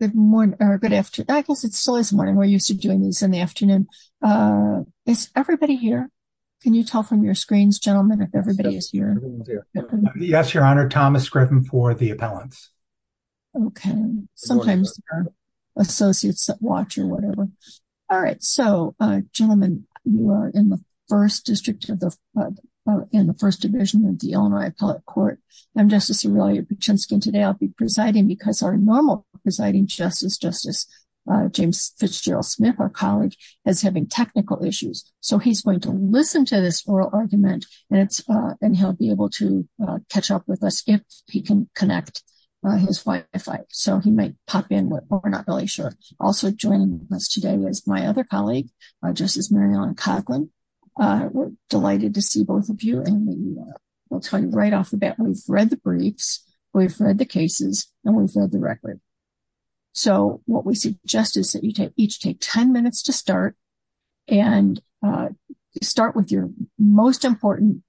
Good morning or good afternoon. I guess it still is morning. We're used to doing these in the afternoon. Is everybody here? Can you tell from your screens, gentlemen, if everybody is here? Yes, Your Honor. Thomas Griffin for the appellants. Okay. Sometimes they're associates that watch or whatever. All right. So, gentlemen, you are in the first district of the, in the first division of the Illinois Appellate Court. I'm Justice today. I'll be presiding because our normal presiding justice, Justice James Fitzgerald Smith, our colleague, is having technical issues. So, he's going to listen to this oral argument and it's, and he'll be able to catch up with us if he can connect his Wi-Fi. So, he might pop in or we're not really sure. Also joining us today is my other colleague, Justice Mary Ellen Coughlin. We're delighted to see both of you and we'll tell you right off the bat, we've read the briefs, we've read the cases, and we've read the record. So, what we suggest is that you each take 10 minutes to start and start with your most important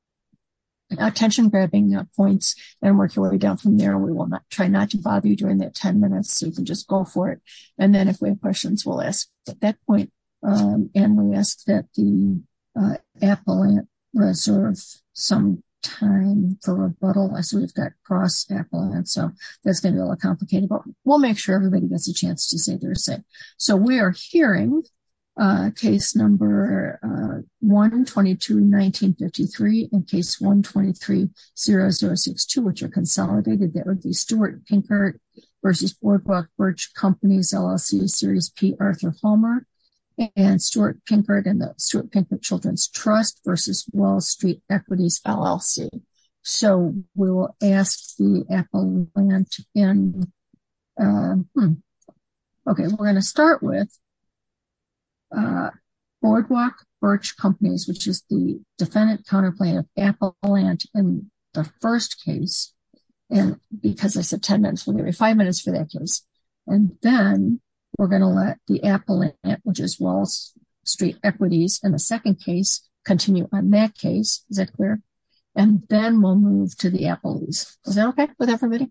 attention-grabbing points and work your way down from there. We will not try not to bother you during that 10 minutes. You can just go for it. And then if we have questions, we'll ask at that point. And we ask that the appellate reserve some time for rebuttal as we've got cross-appellate. So, that's going to be a little complicated, but we'll make sure everybody gets a chance to say their say. So, we are hearing case number 122-1953 and case 123-0062, which are consolidated. That would be Stuart Pinkert versus Boardwalk Birch Companies LLC, Series P, Arthur Homer and Stuart Pinkert and the Stuart Pinkert Children's Trust versus Wall Street Equities LLC. So, we will ask the appellant. Okay, we're going to start with Boardwalk Birch Companies, which is the defendant appellant in the first case. And because I said 10 minutes, we'll give you five minutes for that case. And then we're going to let the appellant, which is Wall Street Equities in the second case, continue on that case. Is that clear? And then we'll move to the appellate. Is that okay with everybody?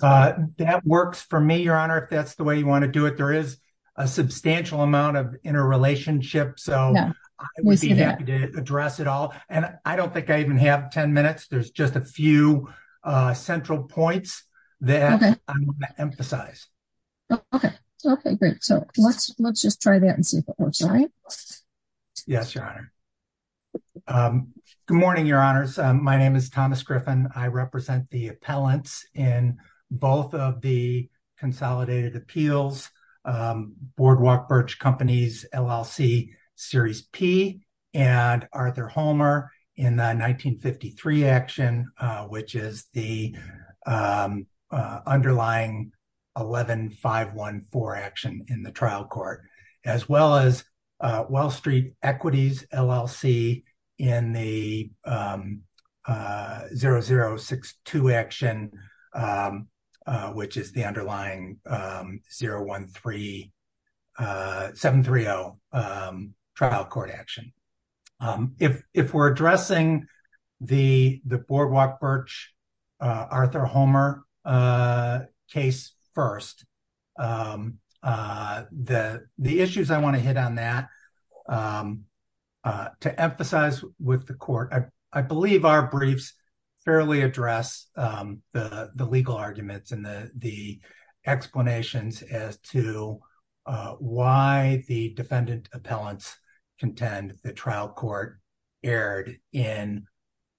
That works for me, Your Honor, if that's the way you want to do it. There is a substantial amount of interrelationship. So, I would be happy to address it all. And I don't think I even have 10 minutes. There's just a few central points that I want to emphasize. Okay, great. So, let's just try that and see if it works. Yes, Your Honor. Good morning, Your Honors. My name is Thomas Griffin. I represent the appellants in both of the Consolidated Appeals, Boardwalk Birch Companies, LLC, Series P, and Arthur Homer in the 1953 action, which is the underlying 11-514 action in the trial court, as well as the underlying 730 trial court action. If we're addressing the Boardwalk Birch, Arthur Homer case first, the issues I want to hit on that, to emphasize with the court, I believe our briefs fairly address the legal arguments and the explanations as to why the defendant appellants contend the trial court erred in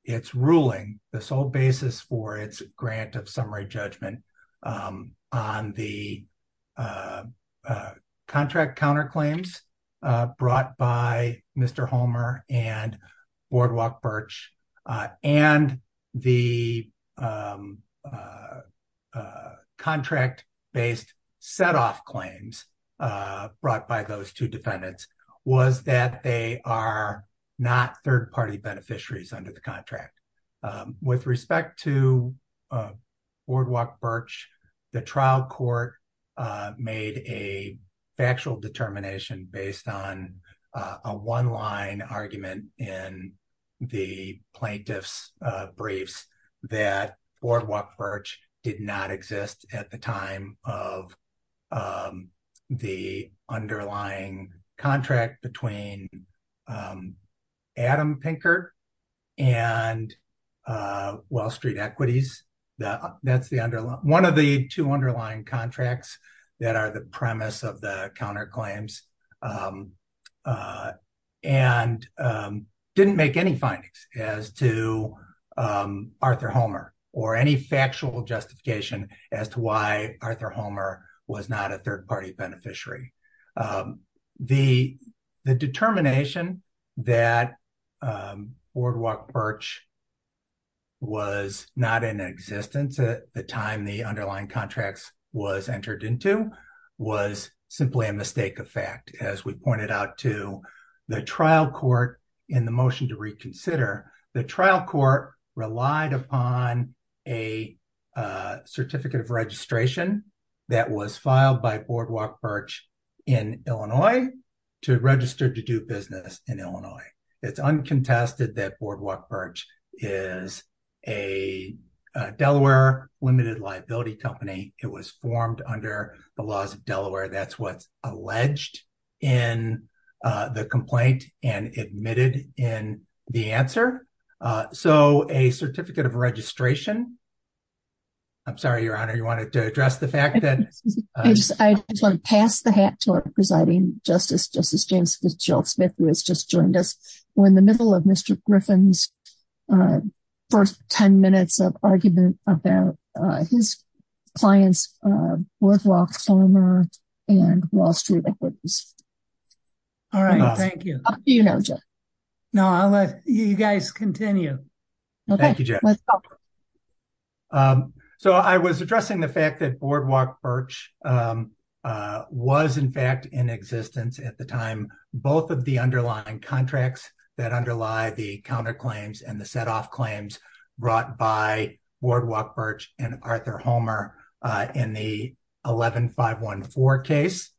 its ruling, the sole basis for its grant of summary judgment on the contract counterclaims brought by Mr. Homer and Boardwalk Birch, and the contract-based set-off claims brought by those two defendants, was that they are not third-party beneficiaries under the contract. With respect to Boardwalk Birch, the trial court made a factual determination based on a one-line argument in the plaintiff's briefs that Boardwalk Birch did not exist at the time of the underlying contract between Adam Pinker and Wall Street Equities. That's one of the two underlying contracts that are the premise of the counterclaims, and didn't make any findings as to Arthur Homer or any factual justification as to why Arthur Homer was not a third-party beneficiary. The determination that Boardwalk Birch was not in existence at the time the underlying contracts was entered into was simply a mistake of fact. As we pointed out to the trial court in the motion to reconsider, the trial court relied upon a certificate of registration that was filed by in Illinois to register to do business in Illinois. It's uncontested that Boardwalk Birch is a Delaware limited liability company. It was formed under the laws of Delaware. That's what's alleged in the complaint and admitted in the answer. So a certificate of registration, I'm sorry, your honor, you wanted to address the fact that I just want to pass the hat to our presiding justice, Justice James Fitzgerald Smith, who has just joined us. We're in the middle of Mr. Griffin's first 10 minutes of argument about his clients, Boardwalk Farmer and Wall Farmer. So I was addressing the fact that Boardwalk Birch was in fact in existence at the time, both of the underlying contracts that underlie the counterclaims and the setoff claims brought by Boardwalk Birch and Arthur Homer in the 11-514 case.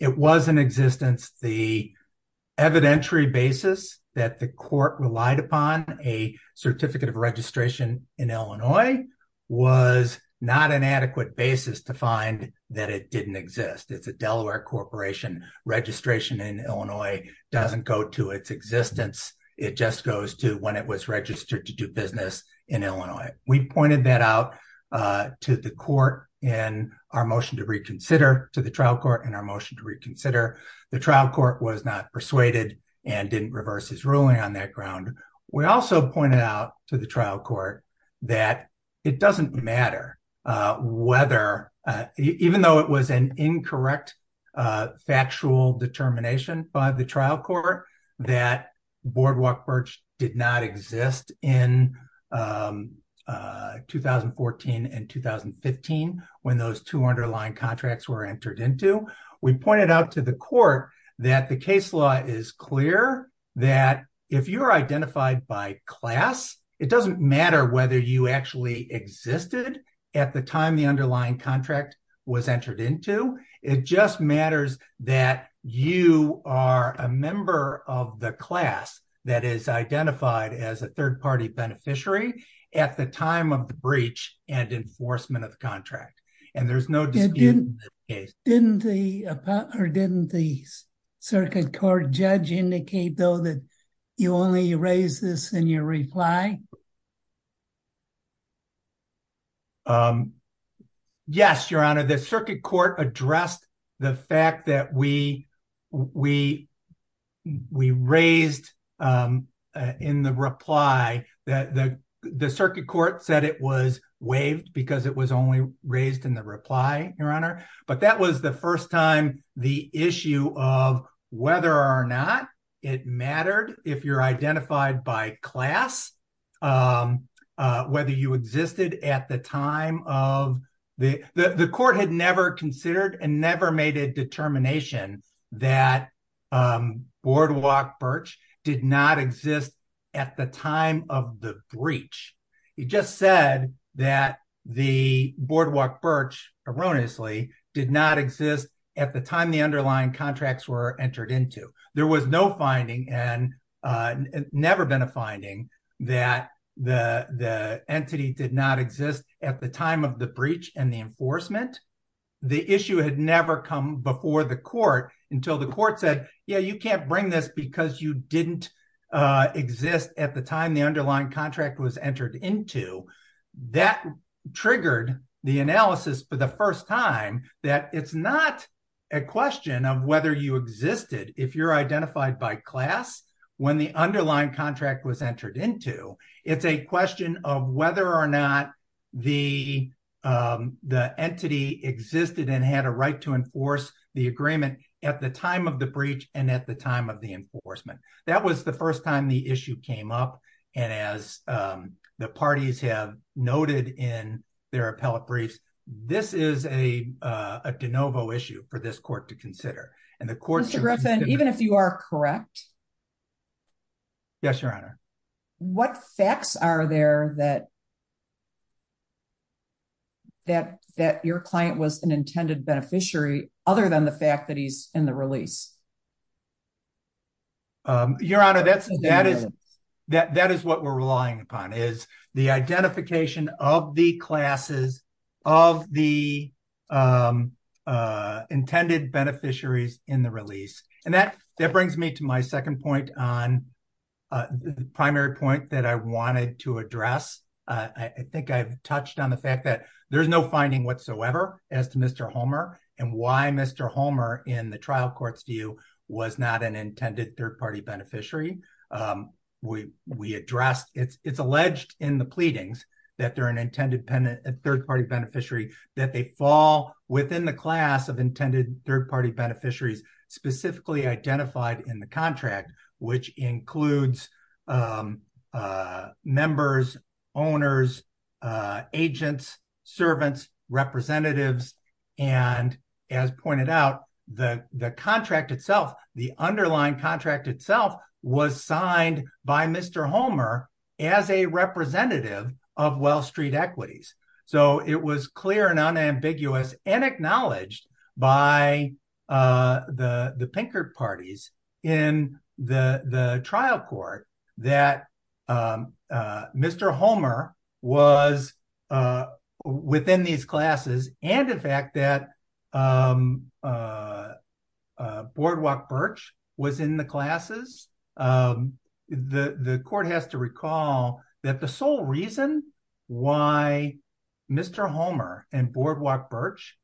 It was in existence the evidentiary basis that the court relied upon a certificate of registration in Illinois was not an adequate basis to find that it didn't exist. It's a Delaware corporation. Registration in Illinois doesn't go to its existence. It just goes to when it was registered to do business in Illinois. We pointed that out to the court in our motion to reconsider, to the trial court in persuaded and didn't reverse his ruling on that ground. We also pointed out to the trial court that it doesn't matter whether even though it was an incorrect factual determination by the trial court that Boardwalk Birch did not exist in 2014 and 2015 when those two underlying contracts were entered into. We pointed out to the court that the case law is clear that if you're identified by class, it doesn't matter whether you actually existed at the time the underlying contract was entered into. It just matters that you are a member of the class that is identified as a third party beneficiary at the time of the breach and enforcement of the contract. And there's no Didn't the circuit court judge indicate though that you only raised this in your reply? Yes, your honor. The circuit court addressed the fact that we raised in the reply that the circuit court said it was waived because it was only raised in the reply, your honor. But that was the first time the issue of whether or not it mattered if you're identified by class, whether you existed at the time of the the court had never considered and never made a determination that Boardwalk Birch did not exist at the time of the breach. He just said that the Boardwalk Birch erroneously did not exist at the time the underlying contracts were entered into. There was no finding and never been a finding that the entity did not exist at the time of the breach and the enforcement. The issue had never come before the court until the court said, yeah, you can't bring this because you didn't exist at the time the underlying contract was entered into. That triggered the analysis for the first time that it's not a question of whether you existed if you're identified by class when the underlying contract was entered into. It's a question of whether or not the entity existed and had a right to enforce the agreement at the time of the breach and at the time of the enforcement. That was the first time the issue came up and as the parties have noted in their appellate briefs, this is a de novo issue for this court to consider. Mr. Griffin, even if you are correct, what facts are there that that your client was an intended beneficiary other than the fact that he's in the release? Your Honor, that is what we're relying upon is the identification of the classes, of the intended beneficiaries in the release. That brings me to my second point on the primary point that I wanted to address. I think I've touched on the fact that there's no finding whatsoever as to Mr. Homer and why Mr. Homer in the trial courts do you was not an intended third-party beneficiary. It's alleged in the pleadings that they're an intended third-party beneficiary that they fall within the class of intended third-party beneficiaries specifically identified in the contract, which includes members, owners, agents, servants, representatives. As pointed out, the contract itself, the underlying contract itself was signed by Mr. Homer as a representative of Well Street Equities. It was clear and a within these classes and the fact that Boardwalk Birch was in the classes, the court has to recall that the sole reason why Mr. Homer and Boardwalk Birch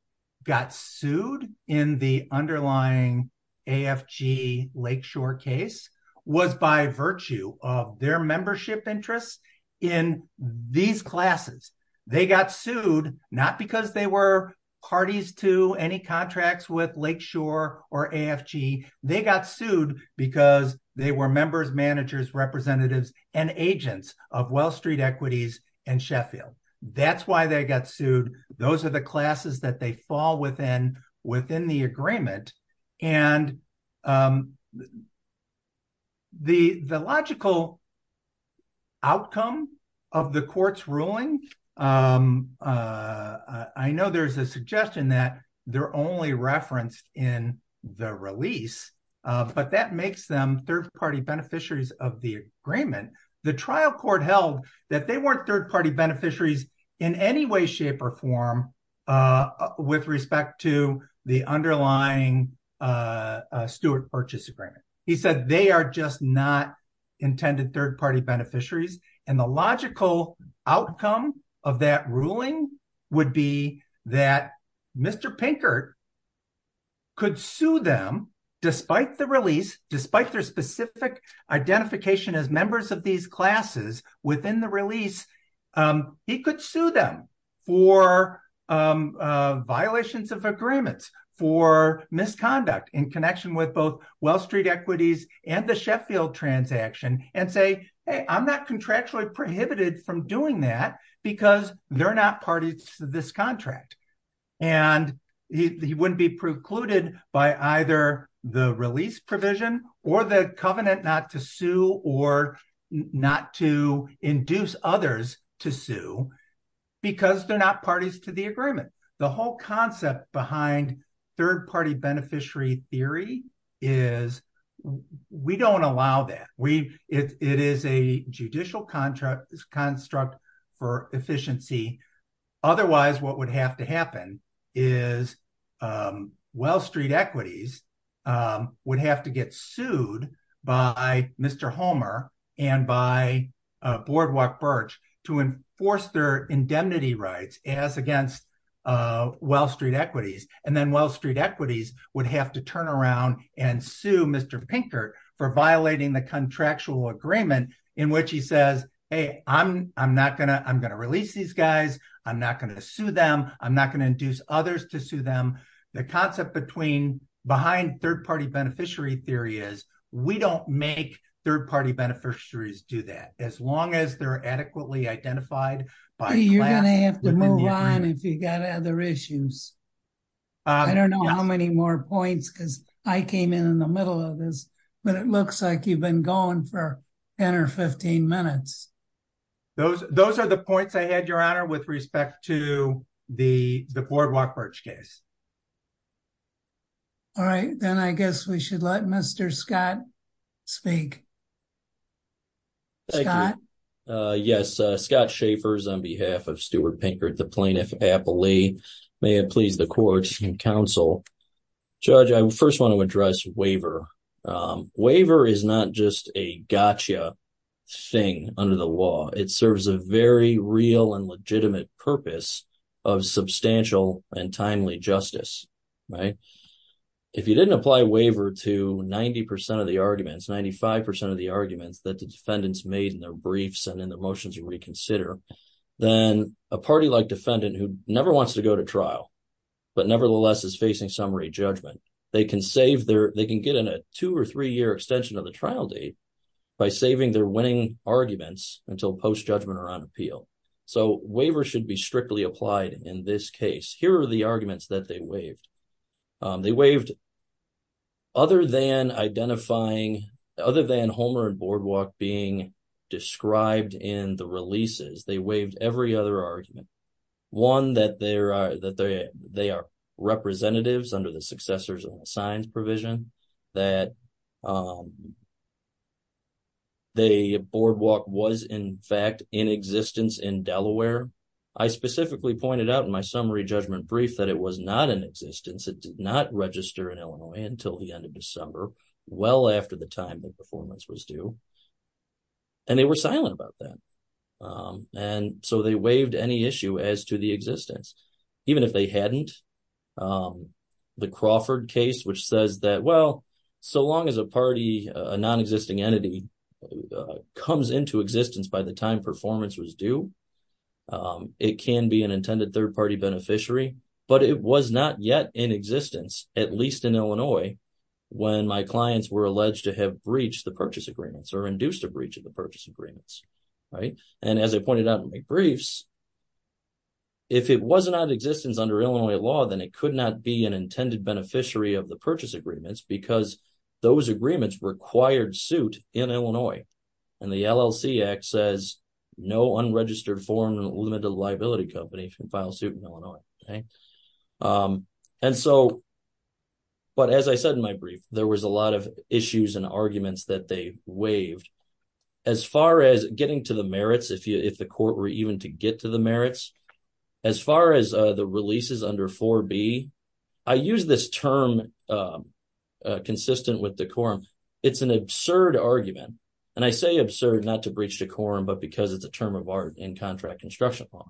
got sued in the underlying AFG Lakeshore case was by virtue of their membership interests in these classes. They got sued not because they were parties to any contracts with Lakeshore or AFG. They got sued because they were members, managers, representatives, and agents of Well Street Equities and Sheffield. That's why they got sued. Those are the classes that they fall within the agreement. The logical outcome of the court's ruling, I know there's a suggestion that they're only referenced in the release, but that makes them third-party beneficiaries of the agreement. The trial court held that they weren't third-party beneficiaries in any way, shape, or form with respect to the underlying Stewart-Birch agreement. He said they are just not intended third-party beneficiaries. The logical outcome of that ruling would be that Mr. Pinkert could sue them despite the release, despite their specific identification as members of these classes within the release. He could sue them for violations of agreements, for misconduct in connection with both Well Street Equities and the Sheffield transaction and say, hey, I'm not contractually prohibited from doing that because they're not parties to this contract. He wouldn't be precluded by either the release provision or the covenant not to sue or not to induce others to sue because they're not parties to the agreement. The whole concept behind third-party beneficiary theory is we don't allow that. It is a judicial construct for efficiency. Otherwise, what would have to happen is Well Street Equities would have to get sued by Mr. Homer and by Boardwalk-Birch to enforce their indemnity rights as against Well Street Equities. Then Well Street Equities would have to turn around and sue Mr. Pinkert for violating the agreement. I'm not going to sue them. I'm not going to induce others to sue them. The concept behind third-party beneficiary theory is we don't make third-party beneficiaries do that as long as they're adequately identified. You're going to have to move on if you've got other issues. I don't know how many more points because I came in in the middle of this, but it looks like you've been going for 10 or 15 minutes. Those are the points I had, with respect to the Boardwalk-Birch case. All right, then I guess we should let Mr. Scott speak. Yes, Scott Schaffers on behalf of Stuart Pinkert, the plaintiff, aptly. May it please the court and counsel. Judge, I first want to address waiver. Waiver is not just a gotcha thing under the law. It serves a very real and legitimate purpose of substantial and timely justice. If you didn't apply waiver to 90 percent of the arguments, 95 percent of the arguments that the defendants made in their briefs and in the motions you reconsider, then a party like defendant who never wants to go to trial, but nevertheless is facing summary judgment, they can get a two or three-year extension of the trial date by saving their winning arguments until post-judgment or on appeal. So, waiver should be strictly applied in this case. Here are the arguments that they waived. They waived other than identifying, other than Homer and Boardwalk being described in the releases. They waived every other argument. One, that they are representatives under the successors of the signs provision, that the Boardwalk was in fact in existence in Delaware. I specifically pointed out in my summary judgment brief that it was not in existence. It did not register in Illinois until the end of December, well after the time the performance was due. And they were silent about that. And so, they waived any issue as to the existence, even if they hadn't. The Crawford case, which says that, well, so long as a party, a non-existing entity, comes into existence by the time performance was due, it can be an intended third-party beneficiary. But it was not yet in existence, at least in Illinois, when my clients were alleged to have breached the purchase agreements, or induced a breach of the purchase agreements. And as I pointed out in my briefs, if it was not in existence under Illinois law, then it could not be an intended beneficiary of the purchase agreements because those agreements required suit in Illinois. And the LLC Act says, no unregistered foreign limited liability company can file suit in Illinois. And so, but as I said in my brief, there was a lot of issues and arguments that they waived. As far as getting to the merits, if the court were even to get to the merits, as far as the releases under 4B, I use this term consistent with the quorum. It's an absurd argument. And I say absurd not to breach the quorum, but because it's a term of art in contract law.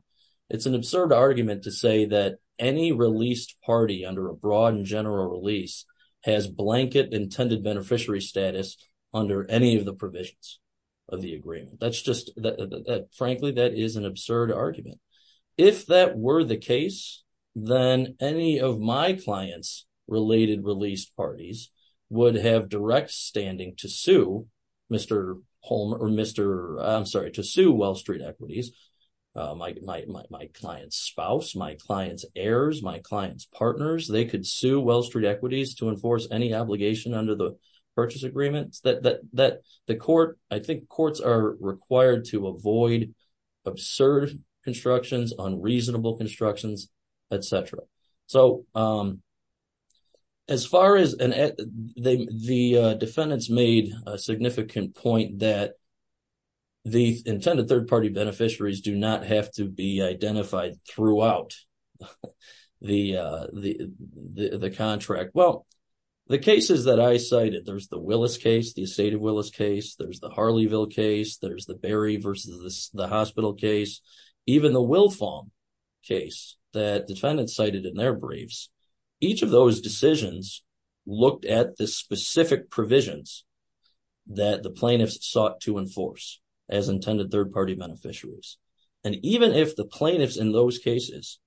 It's an absurd argument to say that any released party under a broad and general release has blanket intended beneficiary status under any of the provisions of the agreement. That's just, frankly, that is an absurd argument. If that were the case, then any of my clients' related released parties would have direct standing to sue Mr. Holm, or Mr., I'm sorry, to sue Wellstreet Equities. My client's spouse, my client's heirs, my client's partners, they could sue Wellstreet Equities to enforce any obligation under the purchase agreements. I think courts are required to avoid absurd constructions, unreasonable constructions, etc. So, as far as the defendants made a significant point that the intended third party beneficiaries do not have to be identified throughout the contract. Well, the cases that I cited, there's the Willis case, the estate of Willis case, there's the Harleyville case, there's the Berry versus the hospital case, even the Wilfong case, that defendants cited in their briefs, each of those decisions looked at the specific provisions that the plaintiffs sought to enforce as intended third party beneficiaries. And even if the plaintiffs in those cases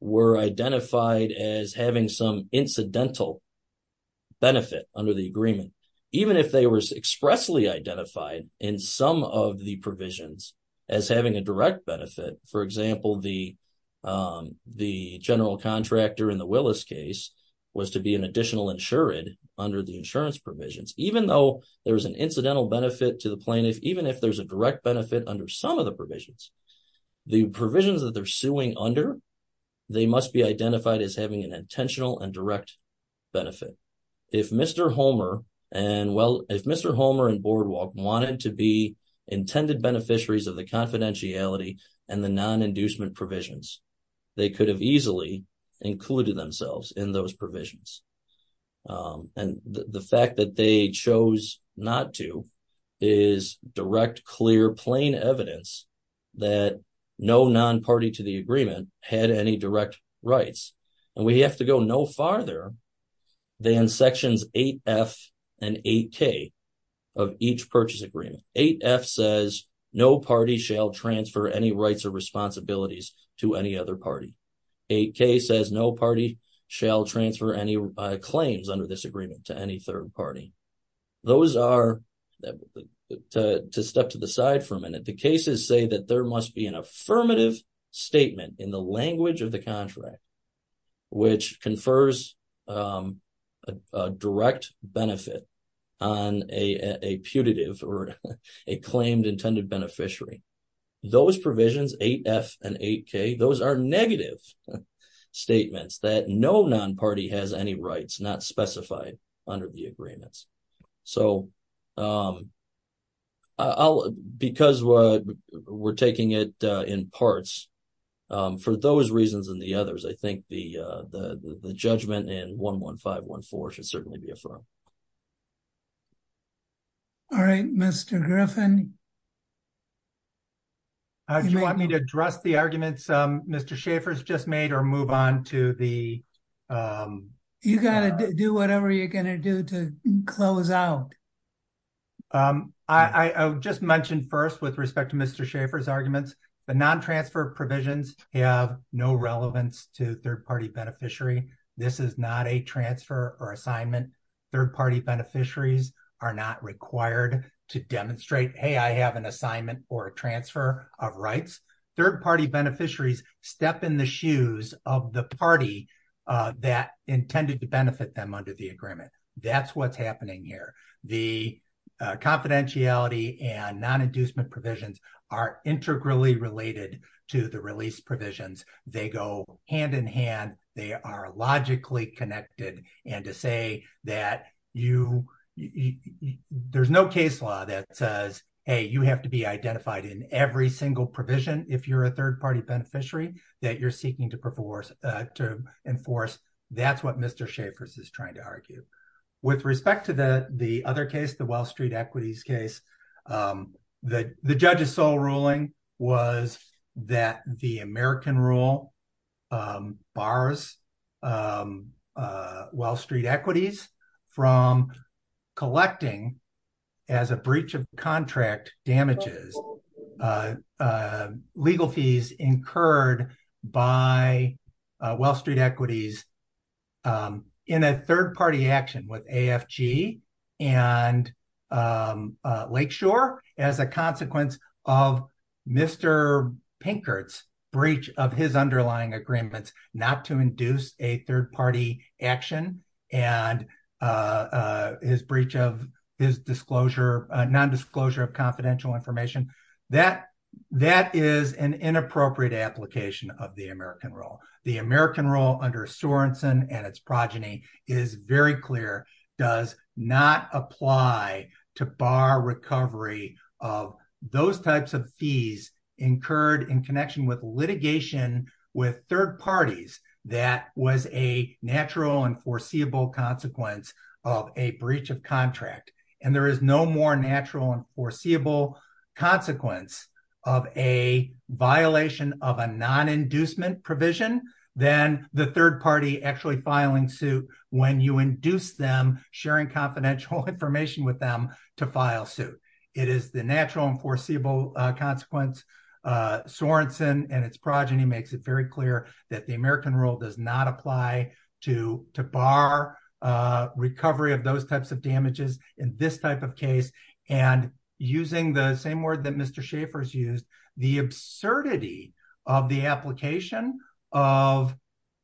were identified as having some incidental benefit under the agreement, even if they were expressly identified in some of the provisions as having a direct benefit, for example, the general contractor in the Willis case was to be an additional insured under the insurance provisions, even though there's an incidental benefit to the plaintiff, even if there's a direct benefit under some of the provisions, the provisions that they're suing under, they must be identified as having an intentional and direct benefit. If Mr. Homer and Boardwalk wanted to be beneficiaries of the confidentiality and the non-inducement provisions, they could have easily included themselves in those provisions. And the fact that they chose not to is direct, clear, plain evidence that no non-party to the agreement had any direct rights. And we have to go no farther than sections 8F and 8K of each purchase agreement. 8F says no party shall transfer any rights or responsibilities to any other party. 8K says no party shall transfer any claims under this agreement to any third party. Those are, to step to the side for a minute, the cases say that there must be an affirmative statement in the language of the contract, which confers a direct benefit on a putative or a claimed intended beneficiary. Those provisions, 8F and 8K, those are negative statements that no non-party has any rights not specified under the agreements. So, because we're taking it in parts, for those reasons and the others, I think the judgment in 11514 should certainly be affirmed. All right, Mr. Griffin. Do you want me to address the arguments Mr. Schaffer's just made or move on to the... You got to do whatever you're going to do to close out. I just mentioned first, with respect to Mr. Schaffer's arguments, the non-transfer provisions have no relevance to third party beneficiary. This is not a transfer or assignment. Third party beneficiaries are not required to demonstrate, hey, I have an assignment or a transfer of rights. Third party beneficiaries step in the shoes of the party that intended to benefit them under the agreement. That's what's happening here. The confidentiality and non-inducement provisions are integrally related to the release provisions. They go hand in hand. They are logically connected and to say that there's no case law that says, hey, you have to be identified in every single provision if you're a third party beneficiary that you're seeking to enforce, that's what Mr. Schaffer's is trying to argue. With respect to the other case, the Wall Street equities case, the judge's sole ruling was that the American rule bars Wall Street equities from collecting as a breach of contract damages legal fees incurred by Wall Street equities in a third party action with AFG and Lakeshore as a consequence of Mr. Pinkert's breach of his disclosure, non-disclosure of confidential information. That is an inappropriate application of the American rule. The American rule under Sorensen and its progeny is very clear, does not apply to bar recovery of those types of fees incurred in connection with litigation with third parties that was a natural and foreseeable consequence of a breach of contract. There is no more natural and foreseeable consequence of a violation of a non-inducement provision than the third party actually filing suit when you induce them sharing confidential information with them to file suit. It is the natural and foreseeable consequence. Sorensen and its progeny is very clear that the American rule does not apply to bar recovery of those types of damages in this type of case. Using the same word that Mr. Schaffer used, the absurdity of the application of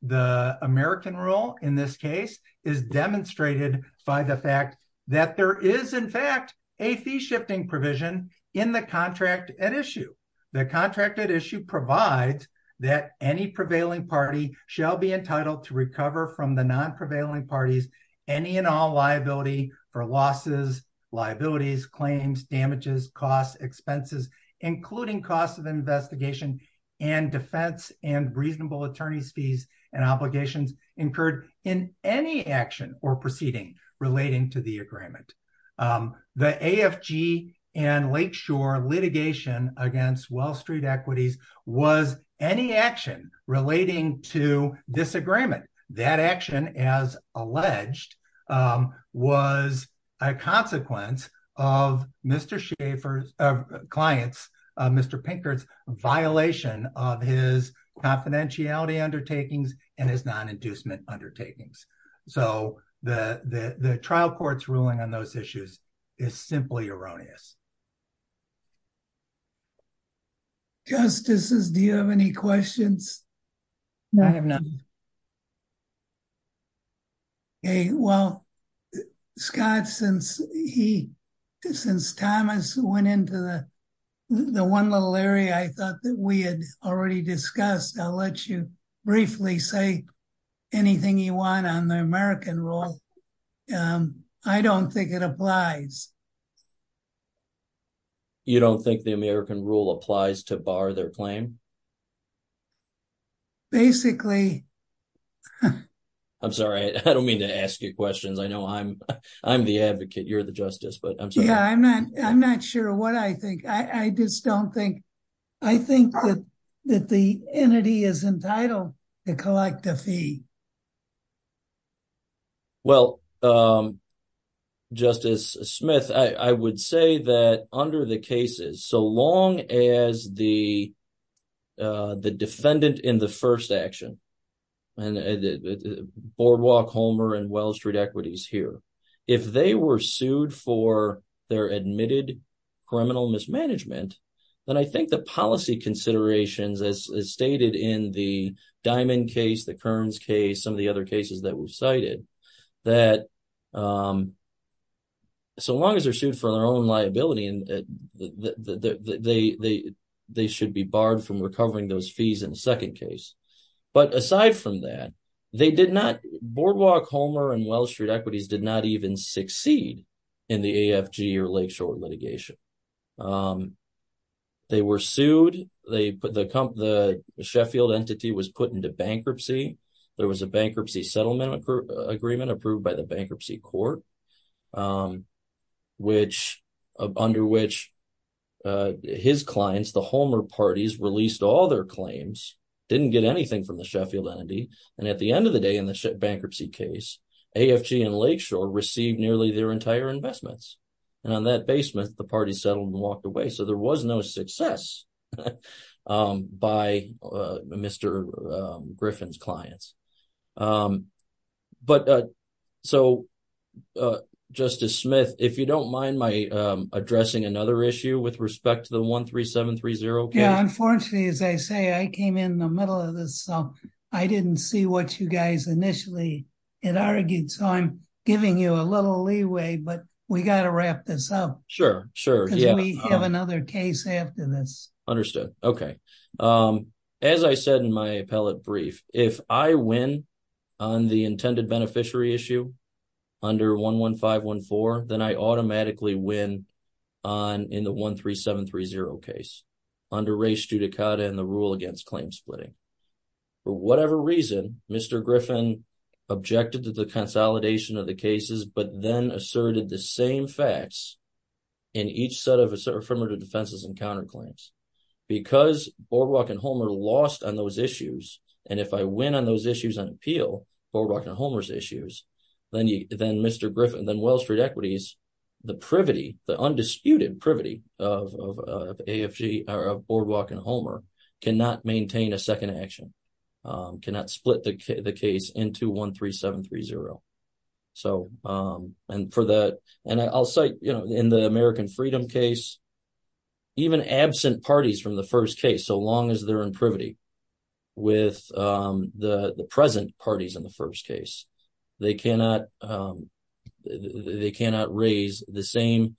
the American rule in this case is demonstrated by the fact that there is in fact a fee shifting provision in the contract at issue. The contract at issue provides that any prevailing party shall be entitled to recover from the non-prevailing parties any and all liability for losses, liabilities, claims, damages, costs, expenses, including costs of investigation and defense and reasonable attorney's fees and obligations incurred in any action or proceeding relating to the agreement. The AFG and Lakeshore litigation against Wall Street Equities was any action relating to disagreement. That action, as alleged, was a consequence of Mr. Schaffer's clients, Mr. Pinkert's violation of his confidentiality undertakings and his non-inducement undertakings. So the trial court's ruling on those issues is simply erroneous. Justices, do you have any questions? I have none. Okay, well, Scott, since he, since Thomas went into the one little area I thought that we had already discussed, I'll let you briefly say anything you want on the American rule. I don't think it applies. You don't think the American rule applies to bar their claim? Basically. I'm sorry, I don't mean to ask you questions. I know I'm the advocate, you're the justice, but I'm sorry. Yeah, I'm not sure what I think. I just don't think, I think that the entity is entitled to collect a fee. Well, Justice Smith, I would say that under the cases, so long as the defendant in the first action, Boardwalk, Homer and Wall Street Equities here, if they were sued for their admitted criminal mismanagement, then I think the policy considerations as stated in the Diamond case, the Kearns case, some of the other cases that we've cited, that so long as they're sued for their own liability, they should be barred from recovering those fees in the second case. But aside from that, they did not, Boardwalk, Homer and Wall Street Equities did not even succeed in the AFG or Lakeshore litigation. They were sued, the Sheffield entity was put into bankruptcy, there was a bankruptcy settlement agreement approved by the bankruptcy court, under which his clients, the Homer parties released all their claims, didn't get anything from the Sheffield entity. And at the end of the bankruptcy case, AFG and Lakeshore received nearly their entire investments. And on that basement, the party settled and walked away. So there was no success by Mr. Griffin's clients. But so, Justice Smith, if you don't mind my addressing another issue with respect to the 13730 case. Yeah, unfortunately, as I say, I came in the middle of this, so I didn't see what you initially had argued. So I'm giving you a little leeway, but we got to wrap this up. Sure, sure. We have another case after this. Understood. Okay. As I said in my appellate brief, if I win on the intended beneficiary issue, under 11514, then I automatically win on in the 13730 case, under Ray Stutakata and the rule against claim splitting. For whatever reason, Mr. Griffin objected to the consolidation of the cases, but then asserted the same facts in each set of affirmative defenses and counterclaims. Because BoardWalk and Homer lost on those issues, and if I win on those issues on appeal, BoardWalk and Homer's issues, then Mr. Griffin, then Wall Street Equities, the privity, the undisputed privity of BoardWalk and Homer cannot maintain a second action, cannot split the case into 13730. And I'll say in the American Freedom case, even absent parties from the first case, so long as they're in privity with the present parties in the first case, they cannot raise the same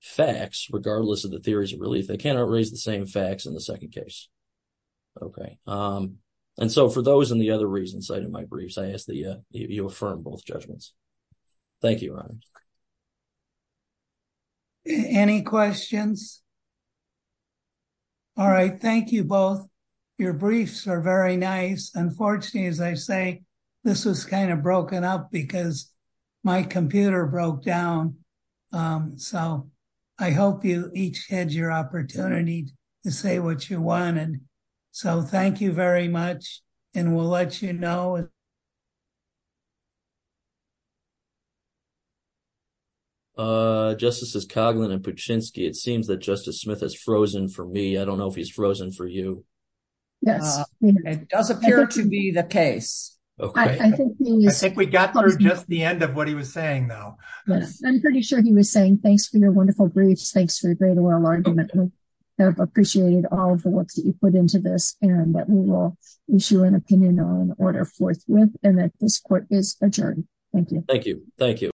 facts, regardless of the theories of relief, they cannot raise the same facts in the second case. Okay. And so for those and the other reasons cited in my briefs, I ask that you affirm both judgments. Thank you, Ron. Any questions? All right. Thank you both. Your briefs are very nice. Unfortunately, as I say, this was kind of broken up because my computer broke down. So I hope you each had your opportunity to say what you wanted. So thank you very much, and we'll let you know if there's any questions. Uh, Justices Coghlan and Puczynski, it seems that Justice Smith has frozen for me. I don't know if he's frozen for you. Yes, it does appear to be the case. Okay. I think we got through just the end of what he was saying, though. Yes, I'm pretty sure he was saying thanks for your wonderful briefs. Thanks for a great oral argument. We have appreciated all of the work that you put into this and that we will issue an opinion on order forthwith and that this court is adjourned. Thank you. Thank you. Thank you.